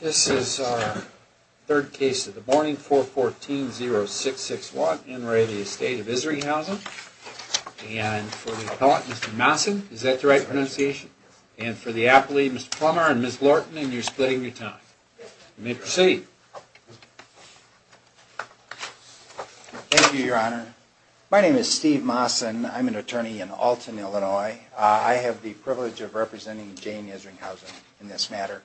This is our third case of the morning. 414-066-1. In re. Estate Isringhausen. And for the appellant, Mr. Massen. Is that the right pronunciation? And for the appellate, Mr. Plummer and Ms. Lorton. And you're splitting your time. You may proceed. Thank you, Your Honor. My name is Steve Massen. I'm an attorney in Alton, Illinois. I have the privilege of representing Jane Isringhausen in this matter.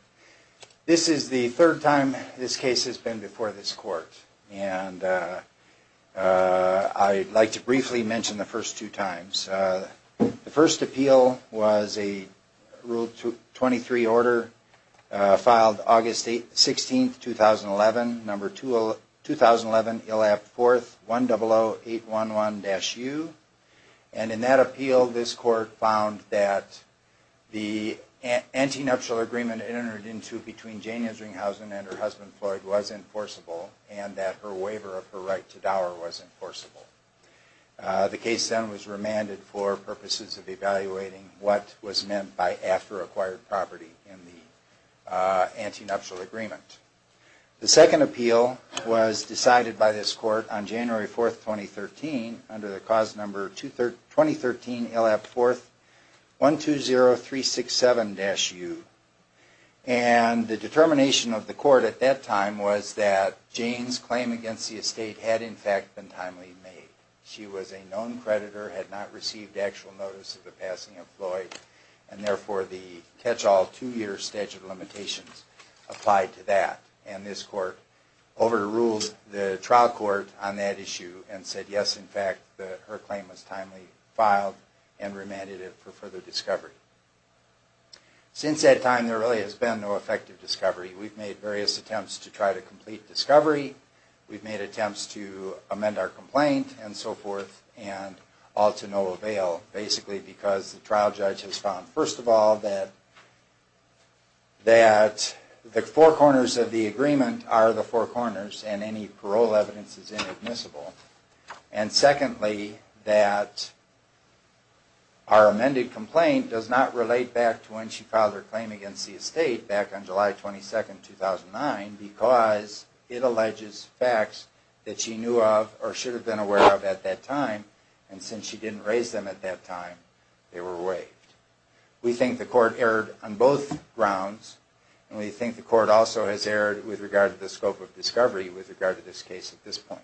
This is the third time this case has been before this court. And I'd like to briefly mention the first two times. The first appeal was a Rule 23 order filed August 16, 2011, number 2011, ILAP 4th, 100811-U. And in that appeal, this court found that the antinuptial agreement entered into between Jane Isringhausen and her husband Floyd was enforceable and that her waiver of her right to dower was enforceable. The case then was remanded for purposes of evaluating what was meant by after acquired property in the antinuptial agreement. The second appeal was decided by this court on January 4, 2013, under the cause number 2013, ILAP 4th, 120367-U. And the determination of the court at that time was that Jane's claim against the estate had in fact been timely made. She was a known creditor, had not received actual notice of the passing of Floyd, and therefore the catch-all two-year statute of limitations applied to that. And this court overruled the trial court on that issue and said yes, in fact, her claim was timely filed and remanded it for further discovery. Since that time, there really has been no effective discovery. We've made various attempts to try to complete discovery. We've made attempts to amend our complaint and so forth, and all to no avail, basically because the trial judge has found, first of all, that the four corners of the agreement are the four corners and any parole evidence is inadmissible. And secondly, that our amended complaint does not relate back to when she filed her claim against the estate back on July 22, 2009, because it alleges facts that she knew of or should have been aware of at that time, and since she didn't raise them at that time, they were waived. We think the court erred on both grounds, and we think the court also has erred with regard to the scope of discovery with regard to this case at this point.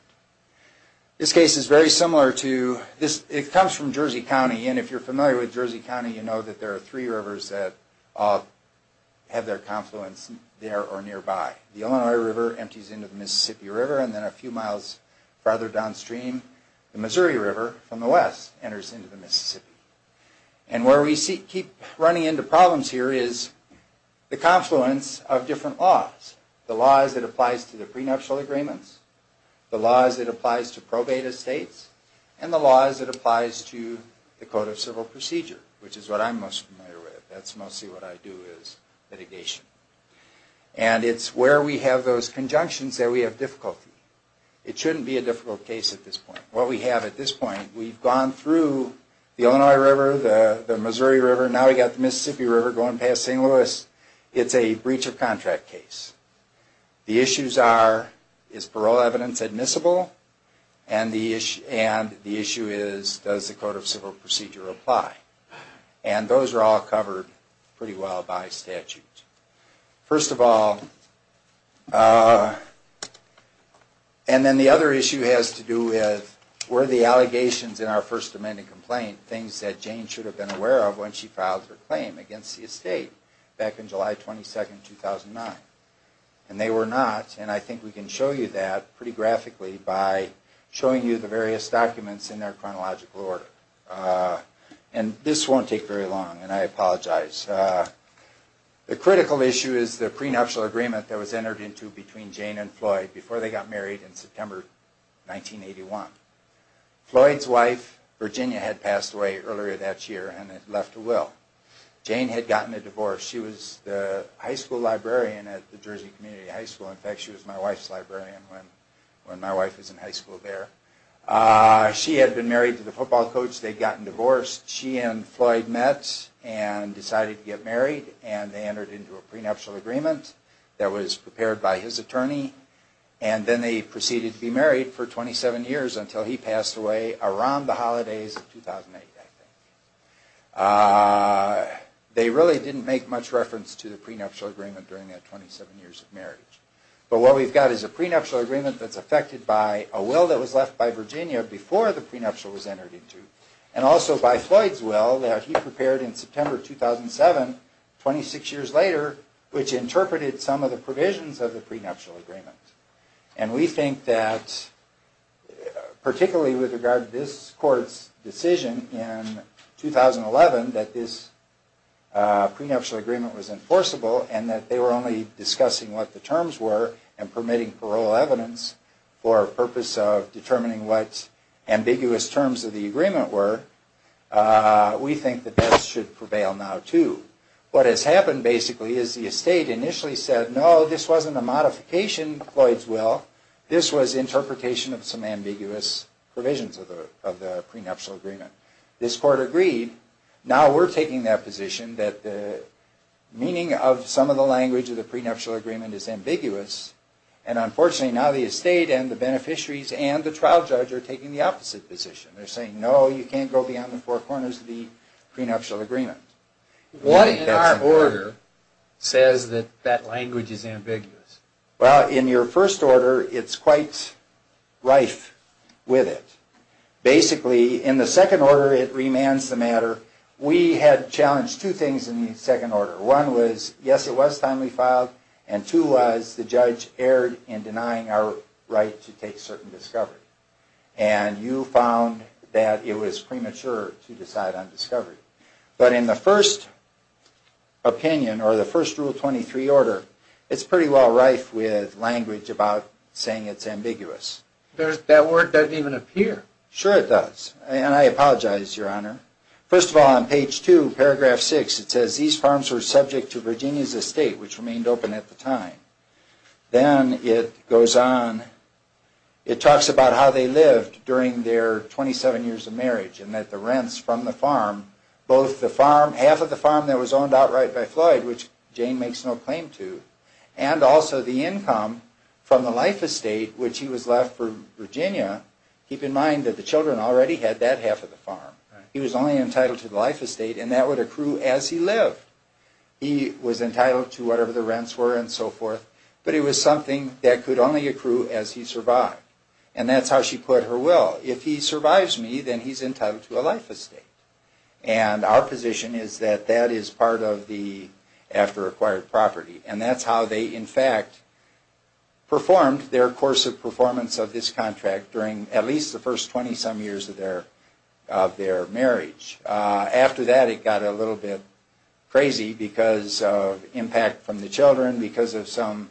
This case is very similar to this. It comes from Jersey County, and if you're familiar with Jersey County, you know that there are three rivers that have their confluence there or nearby. The Illinois River empties into the Mississippi River, and then a few miles farther downstream, the Missouri River from the west enters into the Mississippi. What we keep running into problems here is the confluence of different laws. The laws that applies to the prenuptial agreements, the laws that applies to probate estates, and the laws that applies to the Code of Civil Procedure, which is what I'm most familiar with. That's mostly what I do is litigation. And it's where we have those conjunctions that we have difficulty. It shouldn't be a difficult case at this point. What we have at this point, we've gone through the Illinois River, the Missouri River, now we've got the Mississippi River going past St. Louis. It's a breach of contract case. The issues are, is parole evidence admissible? And the issue is, does the Code of Civil Procedure apply? And those are all covered pretty well by statute. First of all, and then the other issue has to do with were the allegations in our First Amendment complaint things that Jane should have been aware of when she filed her claim against the estate back in July 22, 2009? And they were not, and I think we can show you that pretty graphically by showing you the various documents in their chronological order. And this won't take very long, and I apologize. The issue is the prenuptial agreement that was entered into between Jane and Floyd before they got married in September 1981. Floyd's wife, Virginia, had passed away earlier that year and had left a will. Jane had gotten a divorce. She was the high school librarian at the Jersey Community High School. In fact, she was my wife's librarian when my wife was in high school there. She had been married to the football coach. They'd gotten divorced. She and Floyd met and decided to get married, and they entered into a prenuptial agreement that was prepared by his attorney. And then they proceeded to be married for 27 years until he passed away around the holidays of 2008, I think. They really didn't make much reference to the prenuptial agreement during that 27 years of marriage. But what we've got is a prenuptial agreement that's affected by a will that was left by Virginia before the prenuptial was entered into, and also by Floyd's will that he prepared in September 2007, 26 years later, which interpreted some of the provisions of the prenuptial agreement. And we think that, particularly with regard to this court's decision in 2011 that this prenuptial agreement was enforceable and that they were only discussing what the terms were and permitting parole evidence for a purpose of determining what ambiguous terms of the agreement were, we think that that should prevail now, too. What has happened, basically, is the estate initially said, no, this wasn't a modification of Floyd's will. This was interpretation of some ambiguous provisions of the prenuptial agreement. This court agreed. Now we're taking that position that the meaning of some of the language of the prenuptial agreement is ambiguous, and unfortunately now the estate and the beneficiaries and the trial judge are taking the opposite position. They're saying, no, you can't go beyond the four corners of the prenuptial agreement. What in our order says that that language is ambiguous? Well, in your first order, it's quite rife with it. Basically, in the second order, it remands the matter. We had challenged two things in the second order. One was, yes, it was timely filed, and two was the judge erred in denying our right to take certain discovery. And you found that it was premature to decide on discovery. But in the first opinion, or the first Rule 23 order, it's pretty well rife with language about saying it's ambiguous. That word doesn't even appear. Sure it does. And I apologize, Your Honor. First of all, on page two, paragraph six, it says, these farms were subject to Virginia's estate, which remained open at the time. Then it goes on, it talks about how they lived during their 27 years of marriage, and that the rents from the farm, both the farm, half of the farm that was owned outright by Floyd, which Jane makes no claim to, and also the income from the life estate, which he was left for Virginia, keep in mind that the children already had that half of the farm. He was only entitled to the life estate, and that would accrue as he lived. He was entitled to whatever the rents were and so forth, but it was something that could only accrue as he survived. And that's how she put her will. If he survives me, then he's entitled to a life estate. And our position is that that is part of the after-acquired property. And that's how they, in fact, performed their course of performance of this contract during at least the first 20-some years of their marriage. After that, it got a little bit crazy because of impact from the children, because of some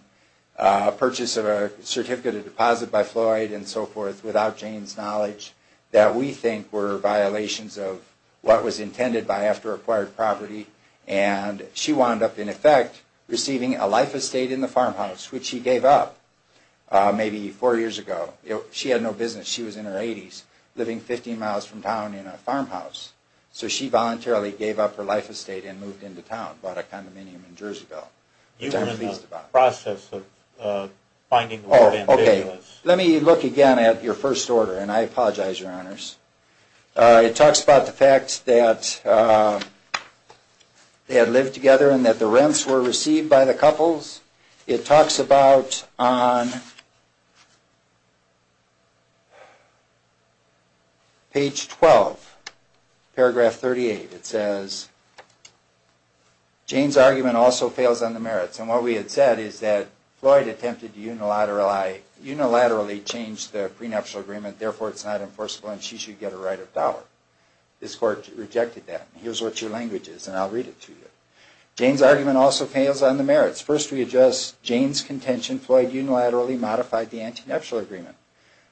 purchase of a certificate of deposit by Floyd and so forth, without Jane's knowledge, that we think were violations of what was intended by after-acquired property. And she wound up, in effect, receiving a life estate in the farmhouse, which she gave up maybe four years ago. She had no business. She was in her 80s, living 15 miles from town in a farmhouse. So she voluntarily gave up her life estate and moved into town, bought a condominium in Jerseyville, which I'm pleased about. You were in the process of finding the word ambiguous. Let me look again at your first order, and I apologize, Your Honors. It talks about the fact that they had lived together and that the rents were received by the couples. It talks about, on page 12, paragraph 38, it says, Jane's argument also fails on the merits. And what we had said is that Floyd attempted to unilaterally change the prenuptial agreement, therefore it's not enforceable and she should get a right of dollar. This court rejected that. Here's what your language is, and I'll read it to you. Jane's argument also fails on the merits. First we adjust, Jane's contention, Floyd unilaterally modified the anti-nuptial agreement.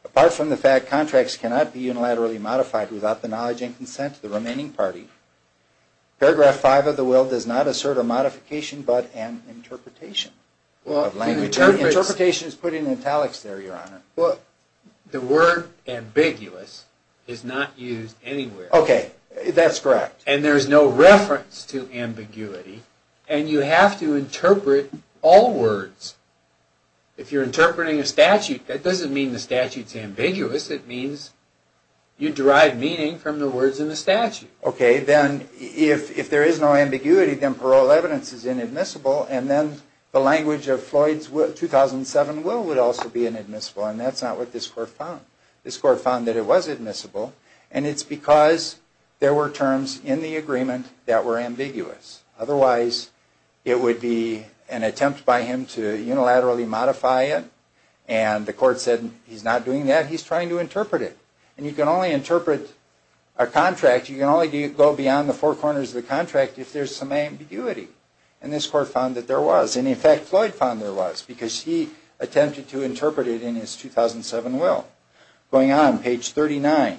Apart from the fact contracts cannot be unilaterally modified without the knowledge and consent of the remaining party. Paragraph 5 of the will does not assert a modification but an interpretation. Interpretation is put in italics there, Your Honor. The word ambiguous is not used anywhere. Okay, that's correct. And there's no reference to ambiguity, and you have to interpret all words. If you're interpreting a statute, that doesn't mean the statute's ambiguous, it means you derive meaning from the words in the statute. Okay, then if there is no ambiguity, then parole evidence is inadmissible, and then the language of Floyd's 2007 will would also be inadmissible, and that's not what this court found. This court found that it was admissible, and it's because there were terms in the agreement that were ambiguous. Otherwise it would be an attempt by him to unilaterally modify it, and the court said he's not doing that, he's trying to interpret it. And you can only interpret a contract, you can only go beyond the four corners of the contract if there's some ambiguity. And this court found that there was, and in fact Floyd found there was, because he attempted to interpret it in his 2007 will. Going on, page 39,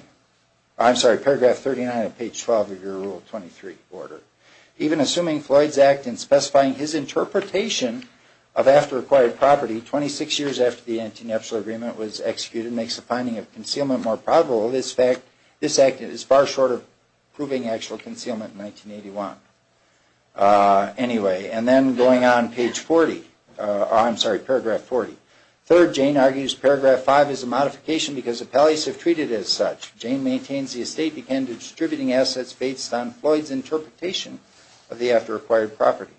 I'm sorry, paragraph 39 of page 12 of your Rule 23 order. Even assuming Floyd's act in specifying his interpretation of after acquired property, 26 years after the antenational agreement was executed, makes the finding of concealment more probable. This fact, this act is far shorter proving actual concealment in 1981. Anyway, and then going on page 40, I'm sorry, paragraph 40. Third, Jane argues paragraph 5 is a modification because appellees have treated it as such. Jane maintains the estate began distributing assets based on Floyd's interpretation of the after acquired property.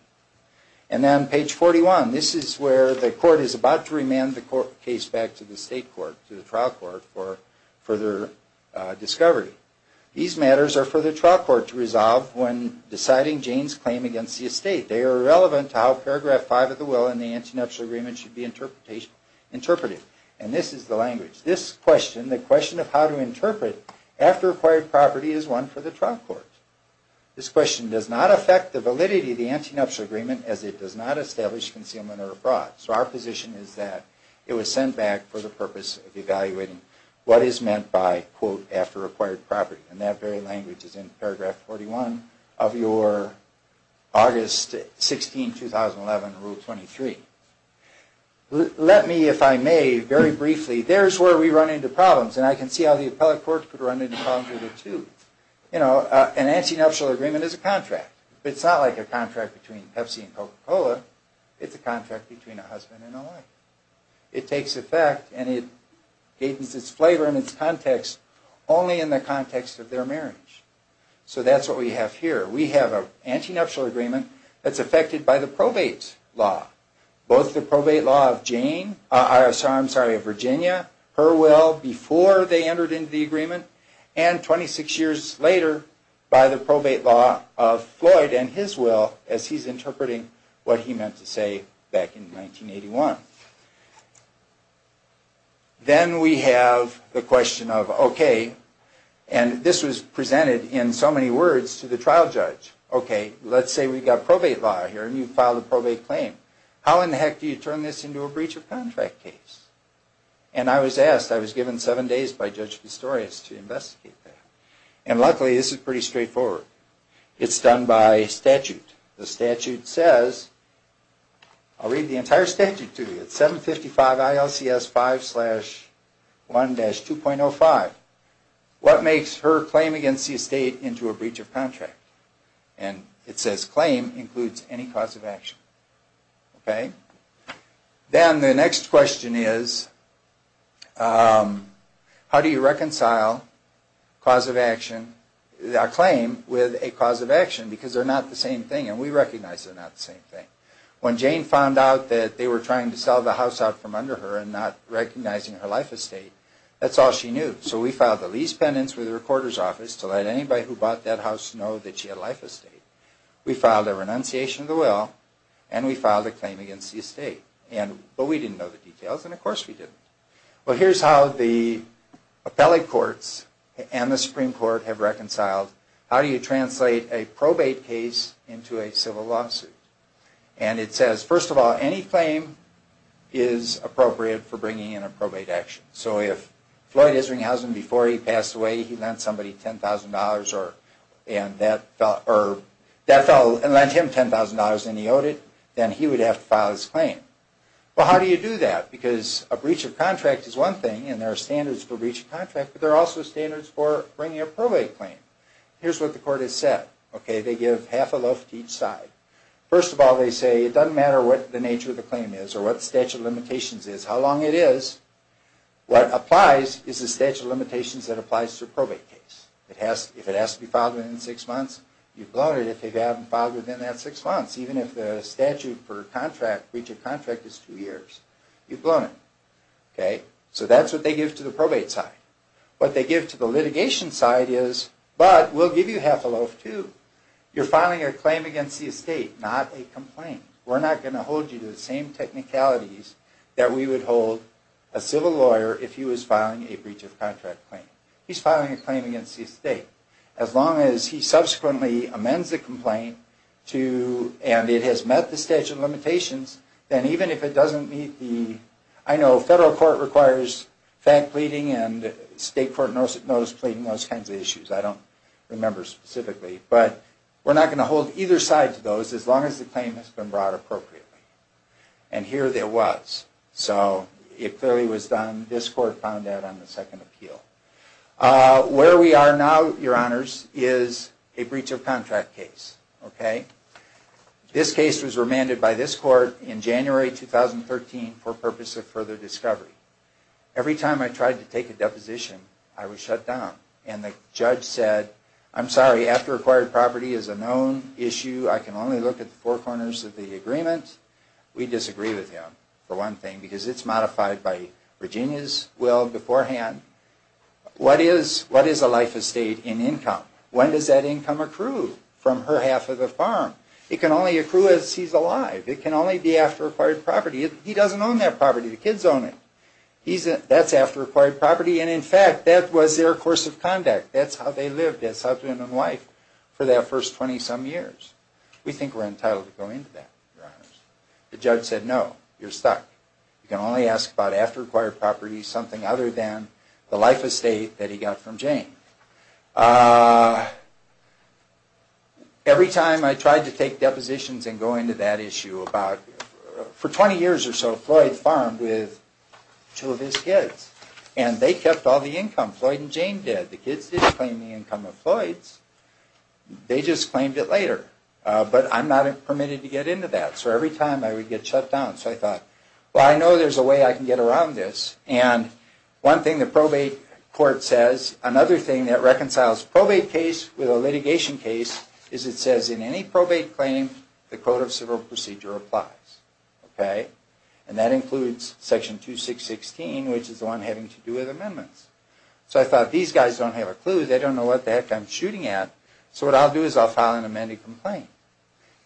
And then page 41, this is where the court is about to remand the case back to the state court, to the trial court, for further discovery. These matters are for the trial court to resolve when deciding Jane's claim against the estate. They are irrelevant to how paragraph 5 of the will and the antenational agreement should be interpreted. And this is the language. This question, the question of how to interpret after acquired property, is one for the trial court. This question does not affect the validity of the antenational agreement as it does not establish concealment or fraud. So our position is that it was sent back for the purpose of evaluating what is meant by, quote, after acquired property. And that very language is in paragraph 41 of your August 16, 2011, rule 23. Let me, if I may, very briefly, there's where we run into problems. And I can see how the appellate courts could run into problems with it, too. You know, an antenational agreement is a contract. It's not like a contract between Pepsi and Coca-Cola. It's a contract between a husband and a wife. It takes effect and it gains its flavor and its context only in the context of their marriage. So that's what we have here. We have an antenational agreement that's affected by the probate law. Both the probate law of Jane, I'm sorry, of Virginia, her will before they entered into the agreement, and 26 years later by the probate law of Floyd and his will as he's interpreting what he meant to say back in 1981. Then we have the question of, okay, and this was presented in so many words to the trial judge. Okay, let's say we've got probate law here and you file a probate claim. How in the heck do you turn this into a breach of contract case? And I was asked, I was given seven days by Judge Pistorius to investigate that. And luckily this is pretty straightforward. It's done by statute. The statute says, I'll read the entire statute to you. It's 755 ILCS 5 slash 1-2.05. What makes her claim against the estate into a breach of contract? And it says claim includes any cause of action. Okay. Then the next question is, how do you reconcile a claim with a cause of action? Because they're not the same thing and we recognize they're not the same thing. When Jane found out that they were trying to sell the house out from under her and not recognizing her life estate, that's all she knew. So we filed a lease penance with her quarters office to let anybody who bought that house know that she had a life estate. We filed a renunciation of the will and we filed a claim against the estate. But we didn't know the details and of course we didn't. Well, here's how the appellate courts and the Supreme Court have reconciled. How do you translate a probate case into a civil lawsuit? And it says, first of all, any claim is appropriate for bringing in a probate action. So if Floyd Isringhausen, before he passed away, he lent somebody $10,000 and that fellow lent him $10,000 and he owed it, then he would have to file his claim. Well, how do you do that? Because a breach of contract is one thing and there are standards for breach of contract, but there are also standards for bringing a probate claim. Here's what the court has said. Okay. First of all, they give half a loaf to each side. First of all, they say it doesn't matter what the nature of the claim is or what the statute of limitations is, how long it is. What applies is the statute of limitations that applies to a probate case. If it has to be filed within six months, you've blown it. If they haven't filed it within that six months, even if the statute for breach of contract is two years, you've blown it. Okay. So that's what they give to the probate side. What they give to the litigation side is, but we'll give you half a loaf, too. You're filing a claim against the estate, not a complaint. We're not going to hold you to the same technicalities that we would hold a civil lawyer if he was filing a breach of contract claim. He's filing a claim against the estate. As long as he subsequently amends the complaint to and it has met the statute of limitations, then even if it doesn't meet the, I know federal court requires fact pleading and state court notice pleading, those kinds of issues. I don't remember specifically. But we're not going to hold either side to those as long as the claim has been brought appropriately. And here there was. So it clearly was done. This court found that on the second appeal. Where we are now, your honors, is a breach of contract case. Okay. This case was remanded by this court in January 2013 for purpose of further discovery. Every time I tried to take a deposition, I was shut down. And the judge said, I'm sorry, after acquired property is a known issue. I can only look at the four corners of the agreement. We disagree with him, for one thing, because it's modified by Virginia's will beforehand. What is a life estate in income? When does that income accrue from her half of the farm? It can only accrue as he's alive. It can only be after acquired property. He doesn't own that property. The kids own it. That's after acquired property. And in fact, that was their course of conduct. That's how they lived. That's how they've been in life for that first 20-some years. We think we're entitled to go into that, your honors. The judge said, no, you're stuck. You can only ask about after acquired property, something other than the life estate that he got from Jane. Every time I tried to take depositions and go into that issue, for 20 years or so, Floyd farmed with two of his kids. And they kept all the income. Floyd and Jane did. The kids didn't claim the income of Floyd's. They just claimed it later. But I'm not permitted to get into that. So every time, I would get shut down. So I thought, well, I know there's a way I can get around this. And one thing the probate court says, another thing that reconciles probate case with a litigation case, is it says in any probate claim, the code of civil procedure applies. And that includes Section 2616, which is the one having to do with amendments. So I thought, these guys don't have a clue. They don't know what the heck I'm shooting at. So what I'll do is I'll file an amended complaint.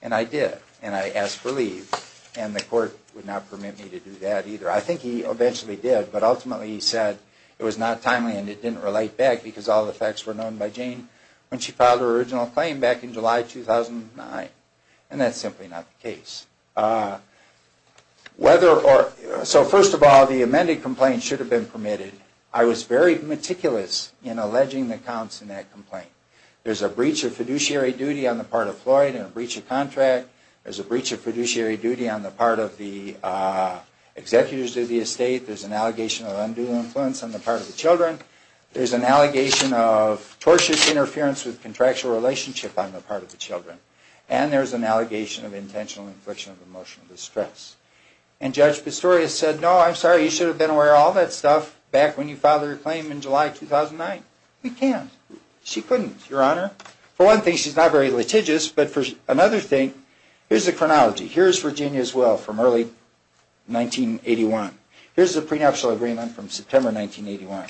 And I did. And I asked for leave. And the court would not permit me to do that either. I think he eventually did. But ultimately, he said it was not timely and it didn't relate back because all the facts were known by Jane when she filed her original claim back in July 2009. And that's simply not the case. So first of all, the amended complaint should have been permitted. I was very meticulous in alleging the counts in that complaint. There's a breach of fiduciary duty on the part of Floyd and a breach of contract. There's a breach of fiduciary duty on the part of the executives of the estate. There's an allegation of undue influence on the part of the children. There's an allegation of tortious interference with contractual relationship on the part of the children. And there's an allegation of intentional infliction of emotional distress. And Judge Pistorius said, no, I'm sorry. You should have been aware of all that stuff back when you filed your claim in July 2009. We can't. She couldn't, Your Honor. For one thing, she's not very litigious. But for another thing, here's the chronology. Here's Virginia's will from early 1981. Here's the prenuptial agreement from September 1981.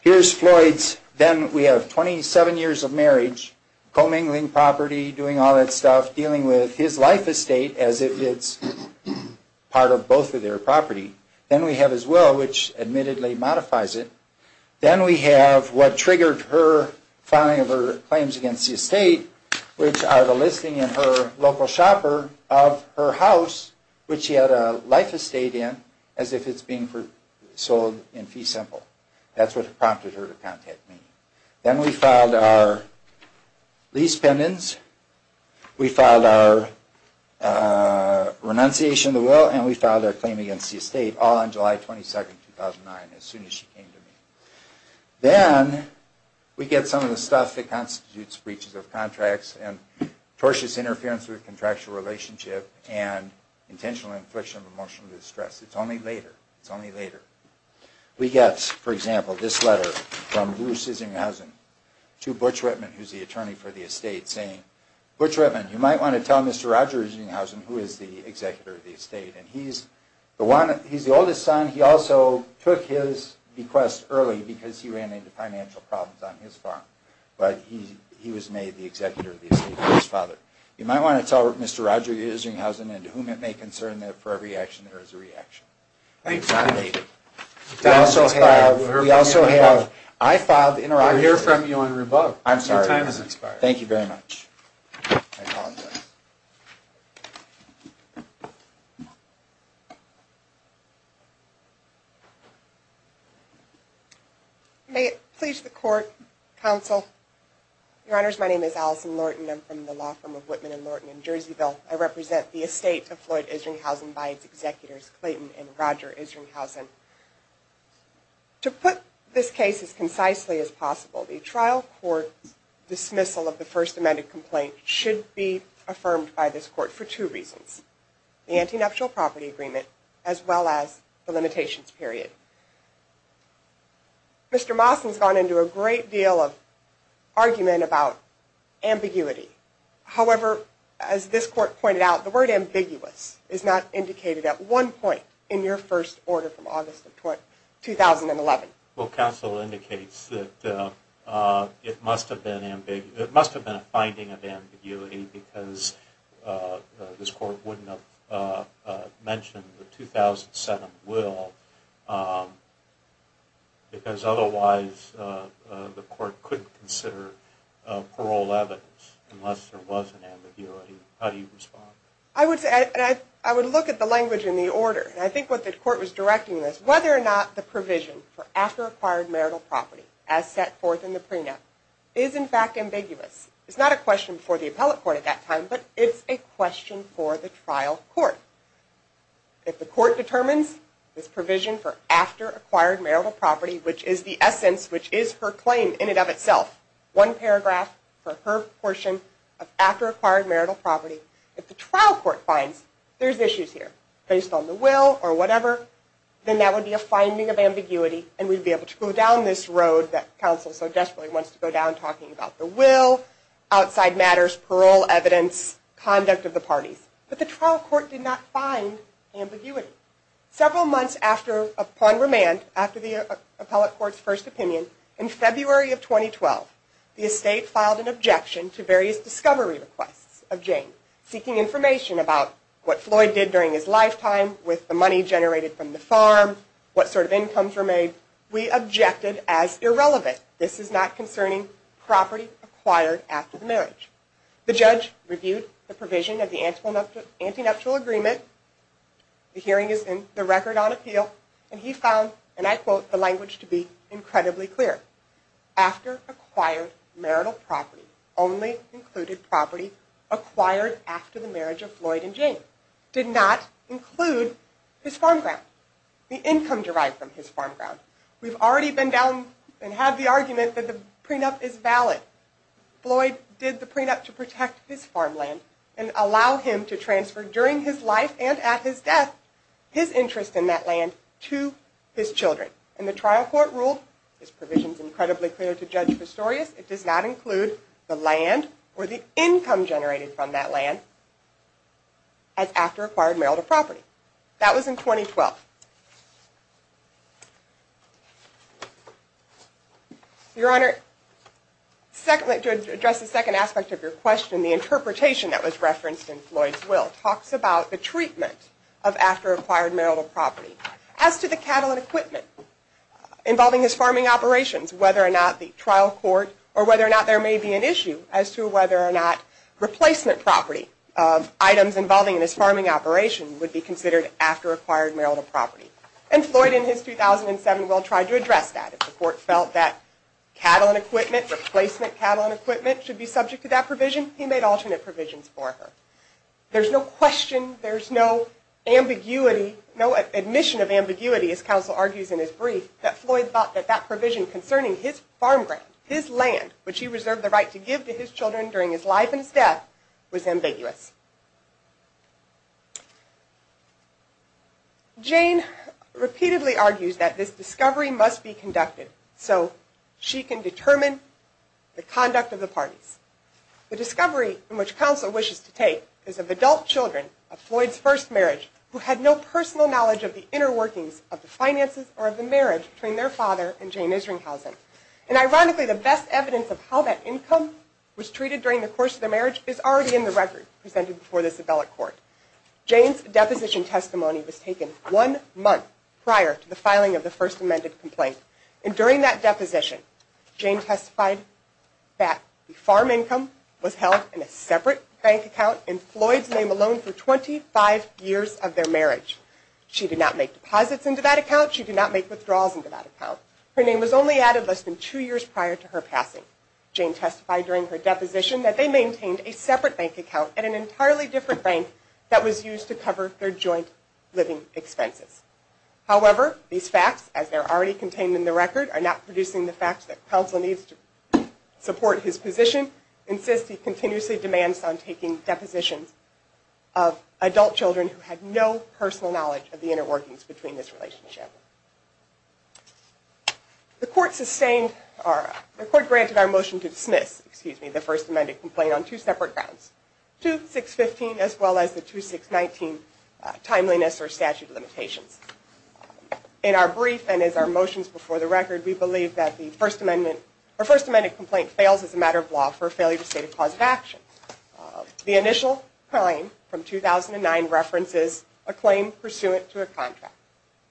Here's Floyd's. Then we have 27 years of marriage, commingling property, doing all that stuff, dealing with his life estate as if it's part of both of their property. Then we have his will, which admittedly modifies it. Then we have what triggered her filing of her claims against the estate, which are the listing in her local shopper of her house, which she had a life estate in, as if it's being sold in fee simple. That's what prompted her to contact me. Then we filed our lease pendants. We filed our renunciation of the will, and we filed our claim against the estate, all on July 22, 2009, as soon as she came to me. Then we get some of the stuff that constitutes breaches of contracts and tortious interference with a contractual relationship and intentional infliction of emotional distress. It's only later. It's only later. We get, for example, this letter from Bruce Isinghausen to Butch Whitman, who's the attorney for the estate, saying, Butch Whitman, you might want to tell Mr. Roger Isinghausen, who is the executor of the estate. He's the oldest son. He also took his request early because he ran into financial problems on his farm. But he was made the executor of the estate by his father. You might want to tell Mr. Roger Isinghausen, and to whom it may concern, that for every action there is a reaction. Thank you. We also have, we also have, I filed the interruption. I hear from you on revoke. I'm sorry. Your time has expired. Thank you very much. I apologize. May it please the Court, Counsel. Your Honors, my name is Allison Lorton. I'm from the law firm of Whitman & Lorton in Jerseyville. I represent the estate of Floyd Isinghausen by its executors, Clayton and Roger Isinghausen. To put this case as concisely as possible, the trial court dismissal of the first amended complaint should be affirmed by this court for two reasons. The antinuptial property agreement, as well as the limitations period. Mr. Mawson's gone into a great deal of argument about ambiguity. However, as this court pointed out, the word ambiguous is not indicated at one point in your first order from August of 2011. Well, counsel indicates that it must have been a finding of ambiguity because this court wouldn't have mentioned the 2007 will. Because otherwise the court couldn't consider parole evidence unless there was an ambiguity. How do you respond? I would look at the language in the order. I think what the court was directing was whether or not the provision for after acquired marital property as set forth in the prenup is in fact ambiguous. It's not a question for the appellate court at that time, but it's a question for the trial court. If the court determines this provision for after acquired marital property, which is the essence, which is her claim in and of itself, one paragraph for her portion of after acquired marital property, if the trial court finds there's issues here based on the will or whatever, then that would be a finding of ambiguity and we'd be able to go down this road that counsel so desperately wants to go down talking about the will, outside matters, parole evidence, conduct of the parties. But the trial court did not find ambiguity. Several months upon remand, after the appellate court's first opinion, in February of 2012, the estate filed an objection to various discovery requests of Jane, seeking information about what Floyd did during his lifetime with the money generated from the farm, what sort of incomes were made. We objected as irrelevant. This is not concerning property acquired after the marriage. The judge reviewed the provision of the anti-nuptial agreement. The hearing is in the record on appeal. And he found, and I quote, the language to be incredibly clear. After acquired marital property, only included property acquired after the marriage of Floyd and Jane. Did not include his farm ground, the income derived from his farm ground. We've already been down and had the argument that the prenup is valid. Floyd did the prenup to protect his farm land and allow him to transfer during his life and at his death his interest in that land to his children. And the trial court ruled, this provision is incredibly clear to Judge Pistorius, it does not include the land or the income generated from that land as after acquired marital property. That was in 2012. Your Honor, to address the second aspect of your question, the interpretation that was referenced in Floyd's will talks about the treatment of after acquired marital property. As to the cattle and equipment involving his farming operations, whether or not the trial court, or whether or not there may be an issue as to whether or not replacement property of items involving his farming operation would be considered after acquired marital property. And Floyd in his 2007 will tried to address that. If the court felt that cattle and equipment, replacement cattle and equipment, should be subject to that provision, he made alternate provisions for her. There's no question, there's no ambiguity, no admission of ambiguity, as counsel argues in his brief, that Floyd thought that that provision concerning his farm ground, his land, which he reserved the right to give to his children during his life and his death, was ambiguous. Jane repeatedly argues that this discovery must be conducted so she can determine the conduct of the parties. The discovery in which counsel wishes to take is of adult children of Floyd's first marriage who had no personal knowledge of the inner workings of the finances or of the marriage between their father and Jane Isringhausen. And ironically, the best evidence of how that income was treated during the course of the marriage is already in the record presented before this appellate court. Jane's deposition testimony was taken one month prior to the filing of the first amended complaint. And during that deposition, Jane testified that the farm income was held in a separate bank account in Floyd's name alone for 25 years of their marriage. She did not make deposits into that account. She did not make withdrawals into that account. Her name was only added less than two years prior to her passing. Jane testified during her deposition that they maintained a separate bank account at an entirely different bank that was used to cover their joint living expenses. However, these facts, as they are already contained in the record, are not producing the facts that counsel needs to support his position. Insisting continuously demands on taking depositions of adult children who had no personal knowledge of the inner workings between this relationship. The court granted our motion to dismiss the first amended complaint on two separate grounds, 2615 as well as the 2619 timeliness or statute of limitations. In our brief and as our motions before the record, we believe that the first amended complaint fails as a matter of law for failure to state a cause of action. The initial claim from 2009 references a claim pursuant to a contract,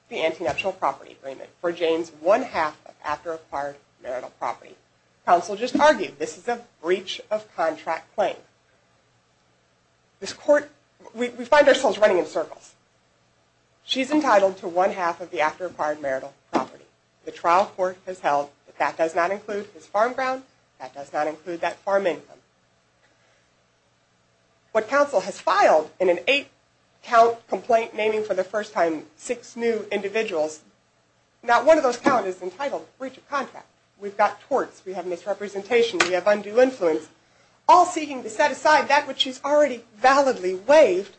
the Antinatural Property Agreement, for Jane's one half of after-acquired marital property. Counsel just argued this is a breach of contract claim. We find ourselves running in circles. She's entitled to one half of the after-acquired marital property. The trial court has held that that does not include his farm ground, that does not include that farm income. What counsel has filed in an eight count complaint naming for the first time six new individuals, not one of those count is entitled breach of contract. We've got torts, we have misrepresentation, we have undue influence, all seeking to set aside that which she's already validly waived,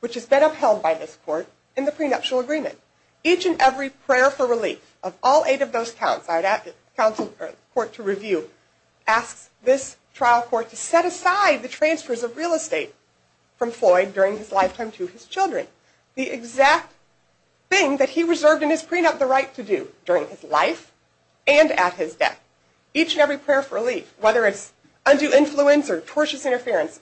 which has been upheld by this court in the prenuptial agreement. Each and every prayer for relief of all eight of those counts, filed at the court to review, asks this trial court to set aside the transfers of real estate from Floyd during his lifetime to his children. The exact thing that he reserved in his prenup the right to do during his life and at his death. Each and every prayer for relief, whether it's undue influence or tortious interference,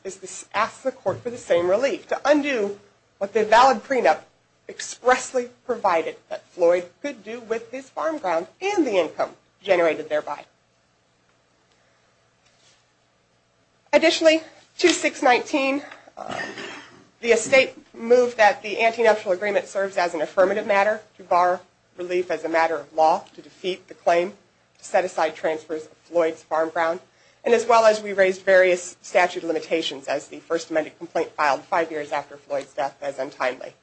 asks the court for the same relief to undo what the valid prenup expressly provided that Floyd could do with his farm ground and the income generated thereby. Additionally, 2619, the estate moved that the antenuptial agreement serves as an affirmative matter to bar relief as a matter of law to defeat the claim to set aside transfers of Floyd's farm ground, and as well as we raised various statute limitations as the first amended complaint filed five years after Floyd's death as untimely.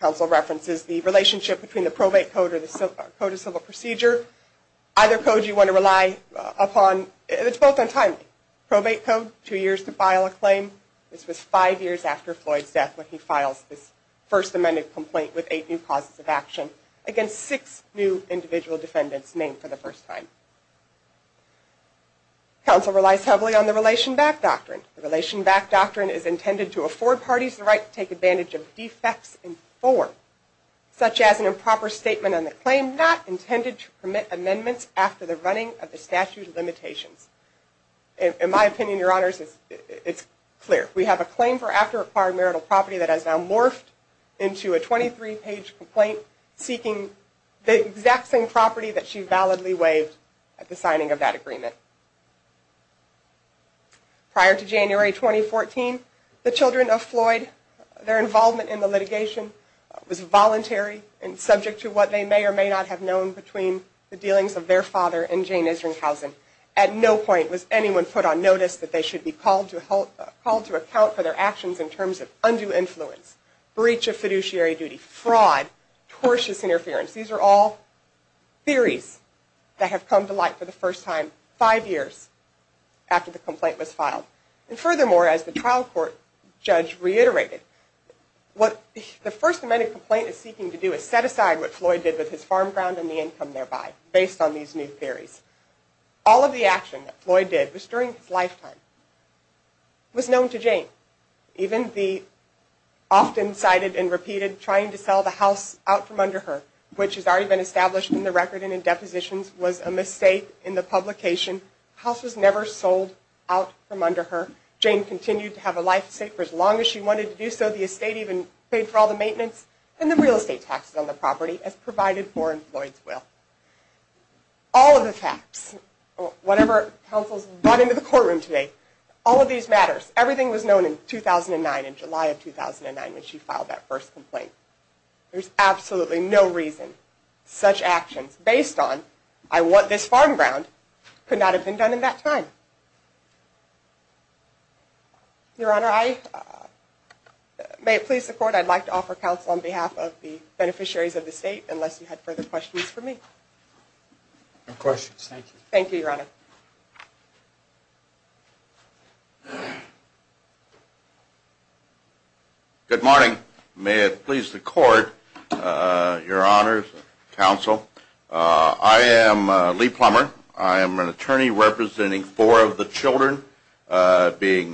Counsel references the relationship between the probate code or the code of civil procedure. Either code you want to rely upon, it's both untimely. Probate code, two years to file a claim. This was five years after Floyd's death when he files this first amended complaint with eight new causes of action against six new individual defendants named for the first time. Counsel relies heavily on the relation back doctrine. The relation back doctrine is intended to afford parties the right to take advantage of defects in form, such as an improper statement on the claim not intended to permit amendments after the running of the statute of limitations. In my opinion, your honors, it's clear. We have a claim for after-acquired marital property that has now morphed into a 23-page complaint seeking the exact same property that she validly waived at the signing of that agreement. Prior to January 2014, the children of Floyd, their involvement in the litigation was voluntary and subject to what they may or may not have known between the dealings of their father and Jane Isringhausen. At no point was anyone put on notice that they should be called to account for their actions in terms of undue influence, breach of fiduciary duty, fraud, tortious interference. These are all theories that have come to light for the first time five years after the complaint was filed. And furthermore, as the trial court judge reiterated, what the First Amendment complaint is seeking to do is set aside what Floyd did with his farm ground and the income thereby, based on these new theories. All of the action that Floyd did was during his lifetime, was known to Jane. Even the often cited and repeated trying to sell the house out from under her, which has already been established in the record and in depositions, was a mistake in the publication. The house was never sold out from under her. Jane continued to have a life safe for as long as she wanted to do so. The estate even paid for all the maintenance and the real estate taxes on the property as provided for in Floyd's will. All of the facts, whatever counsels brought into the courtroom today, all of these matters, everything was known in 2009, in July of 2009 when she filed that first complaint. There's absolutely no reason such actions, based on I want this farm ground, could not have been done in that time. Your Honor, may it please the court, I'd like to offer counsel on behalf of the beneficiaries of the state, unless you have further questions for me. No questions, thank you. Thank you, Your Honor. Good morning. May it please the court, Your Honor, counsel, I am Lee Plummer. I am an attorney representing four of the children, being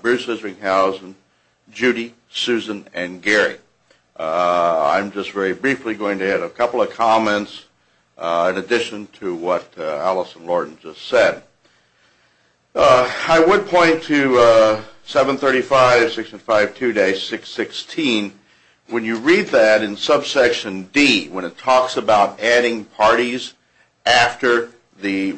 Bruce Hinsringhausen, Judy, Susan, and Gary. I'm just very briefly going to add a couple of comments in addition to what Allison Lorden just said. I would point to 735 section 52-616. When you read that in subsection D, when it talks about adding parties after the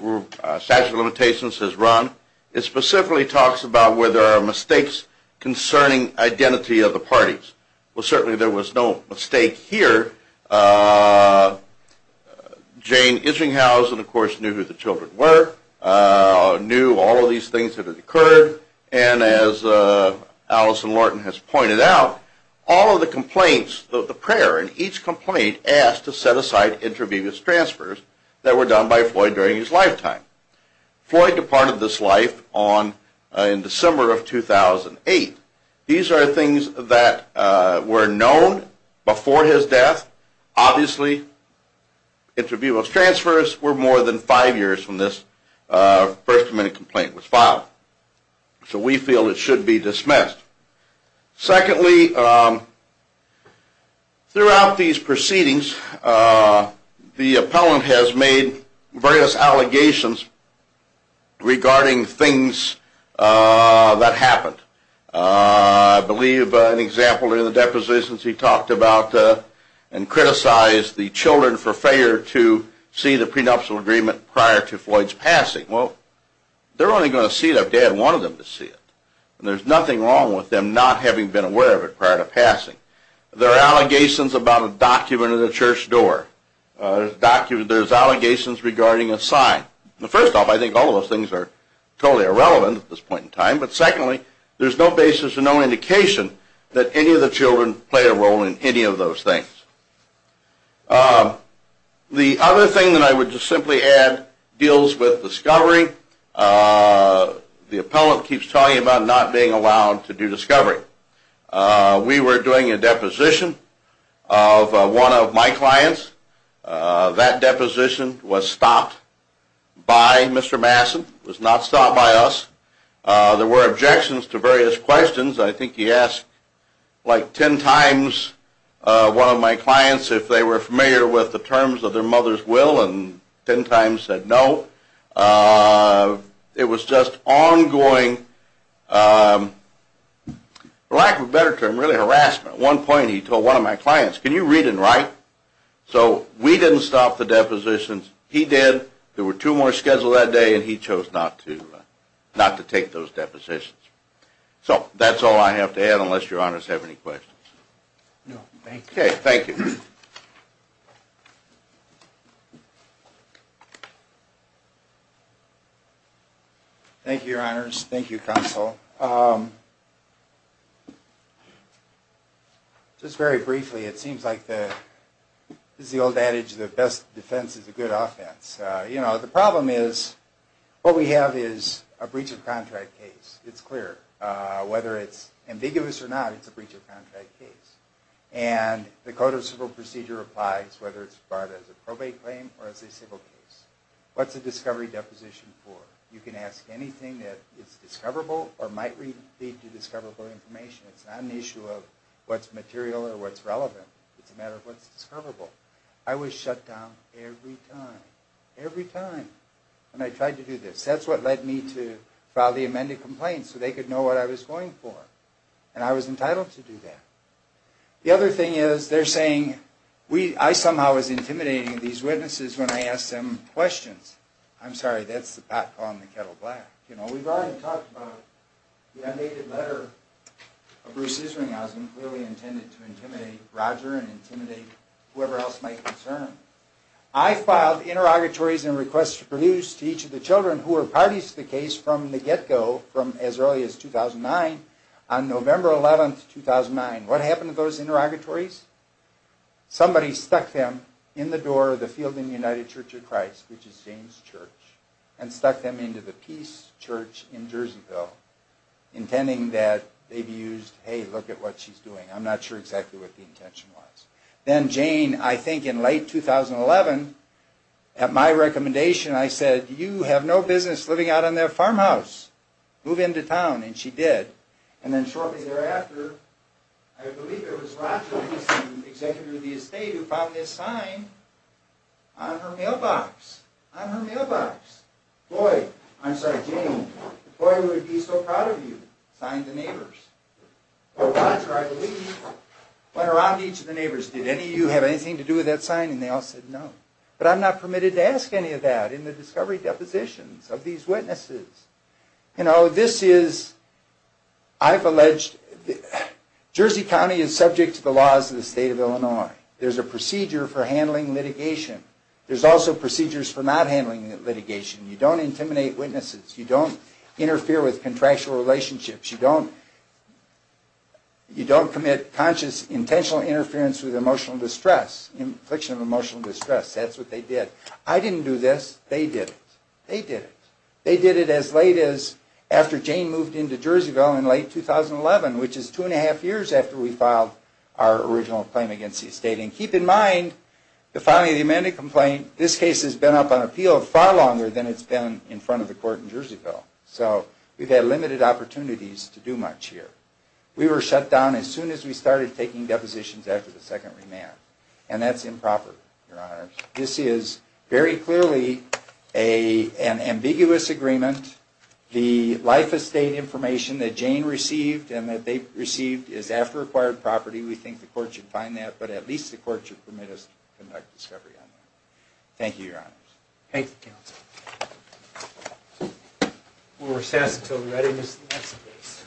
statute of limitations is run, it specifically talks about where there are mistakes concerning identity of the parties. Well, certainly there was no mistake here. Jane Hinsringhausen, of course, knew who the children were, knew all of these things that had occurred, and as Allison Lorden has pointed out, all of the complaints, the prayer in each complaint, asked to set aside intravenous transfers that were done by Floyd during his lifetime. Floyd departed this life in December of 2008. These are things that were known before his death. Obviously, intravenous transfers were more than five years from this first minute complaint was filed. So we feel it should be dismissed. Secondly, throughout these proceedings, the appellant has made various allegations regarding things that happened. I believe an example in the depositions he talked about and criticized the children for failure to see the prenuptial agreement prior to Floyd's passing. Well, they're only going to see it if they had wanted them to see it. And there's nothing wrong with them not having been aware of it prior to passing. There are allegations about a document at a church door. There's allegations regarding a sign. First off, I think all of those things are totally irrelevant at this point in time. But secondly, there's no basis or no indication that any of the children play a role in any of those things. The other thing that I would just simply add deals with discovery. The appellant keeps talking about not being allowed to do discovery. We were doing a deposition of one of my clients. That deposition was stopped by Mr. Masson, was not stopped by us. There were objections to various questions. I think he asked like ten times one of my clients if they were familiar with the terms of their mother's will and ten times said no. It was just ongoing, for lack of a better term, really harassment. At one point he told one of my clients, can you read and write? So we didn't stop the depositions, he did. There were two more scheduled that day and he chose not to take those depositions. So that's all I have to add unless your honors have any questions. No, thank you. Okay, thank you. Thank you, counsel. Just very briefly, it seems like this is the old adage that best defense is a good offense. The problem is what we have is a breach of contract case. It's clear. Whether it's ambiguous or not, it's a breach of contract case. And the code of civil procedure applies whether it's brought as a probate claim or as a civil case. What's a discovery deposition for? You can ask anything that is discoverable or might lead to discoverable information. It's not an issue of what's material or what's relevant. It's a matter of what's discoverable. I was shut down every time. Every time. And I tried to do this. That's what led me to file the amended complaint so they could know what I was going for. And I was entitled to do that. The other thing is they're saying I somehow was intimidating these witnesses when I asked them questions. I'm sorry, that's the pot calling the kettle black. We've already talked about the undated letter of Bruce's ring. I was clearly intended to intimidate Roger and intimidate whoever else might concern him. I filed interrogatories and requests to produce to each of the children who were parties to the case from the get-go, from as early as 2009, on November 11, 2009. What happened to those interrogatories? Somebody stuck them in the door of the Field and United Church of Christ, which is Jane's church, and stuck them into the Peace Church in Jerseyville, intending that they be used, hey, look at what she's doing. I'm not sure exactly what the intention was. Then Jane, I think in late 2011, at my recommendation, I said, you have no business living out on that farmhouse. Move into town. And she did. And then shortly thereafter, I believe it was Roger, the executive of the estate, who found this sign on her mailbox. On her mailbox. Boy, I'm sorry, Jane. Boy, we would be so proud of you, signed the neighbors. Well, Roger, I believe, went around to each of the neighbors, did any of you have anything to do with that sign? And they all said no. But I'm not permitted to ask any of that in the discovery depositions of these witnesses. You know, this is, I've alleged, Jersey County is subject to the laws of the state of Illinois. There's a procedure for handling litigation. There's also procedures for not handling litigation. You don't intimidate witnesses. You don't interfere with contractual relationships. You don't commit conscious, intentional interference with emotional distress, infliction of emotional distress. That's what they did. I didn't do this. They did it. They did it. They did it as late as after Jane moved into Jerseyville in late 2011, which is two and a half years after we filed our original claim against the estate. And keep in mind, the filing of the amended complaint, this case has been up on appeal far longer than it's been in front of the court in Jerseyville. So we've had limited opportunities to do much here. We were shut down as soon as we started taking depositions after the second remand. And that's improper, Your Honors. This is very clearly an ambiguous agreement. The life estate information that Jane received and that they received is after acquired property. We think the court should find that, but at least the court should permit us to conduct discovery on that. Thank you, Your Honors. Thank you, Counsel. We'll recess until readiness of the next case.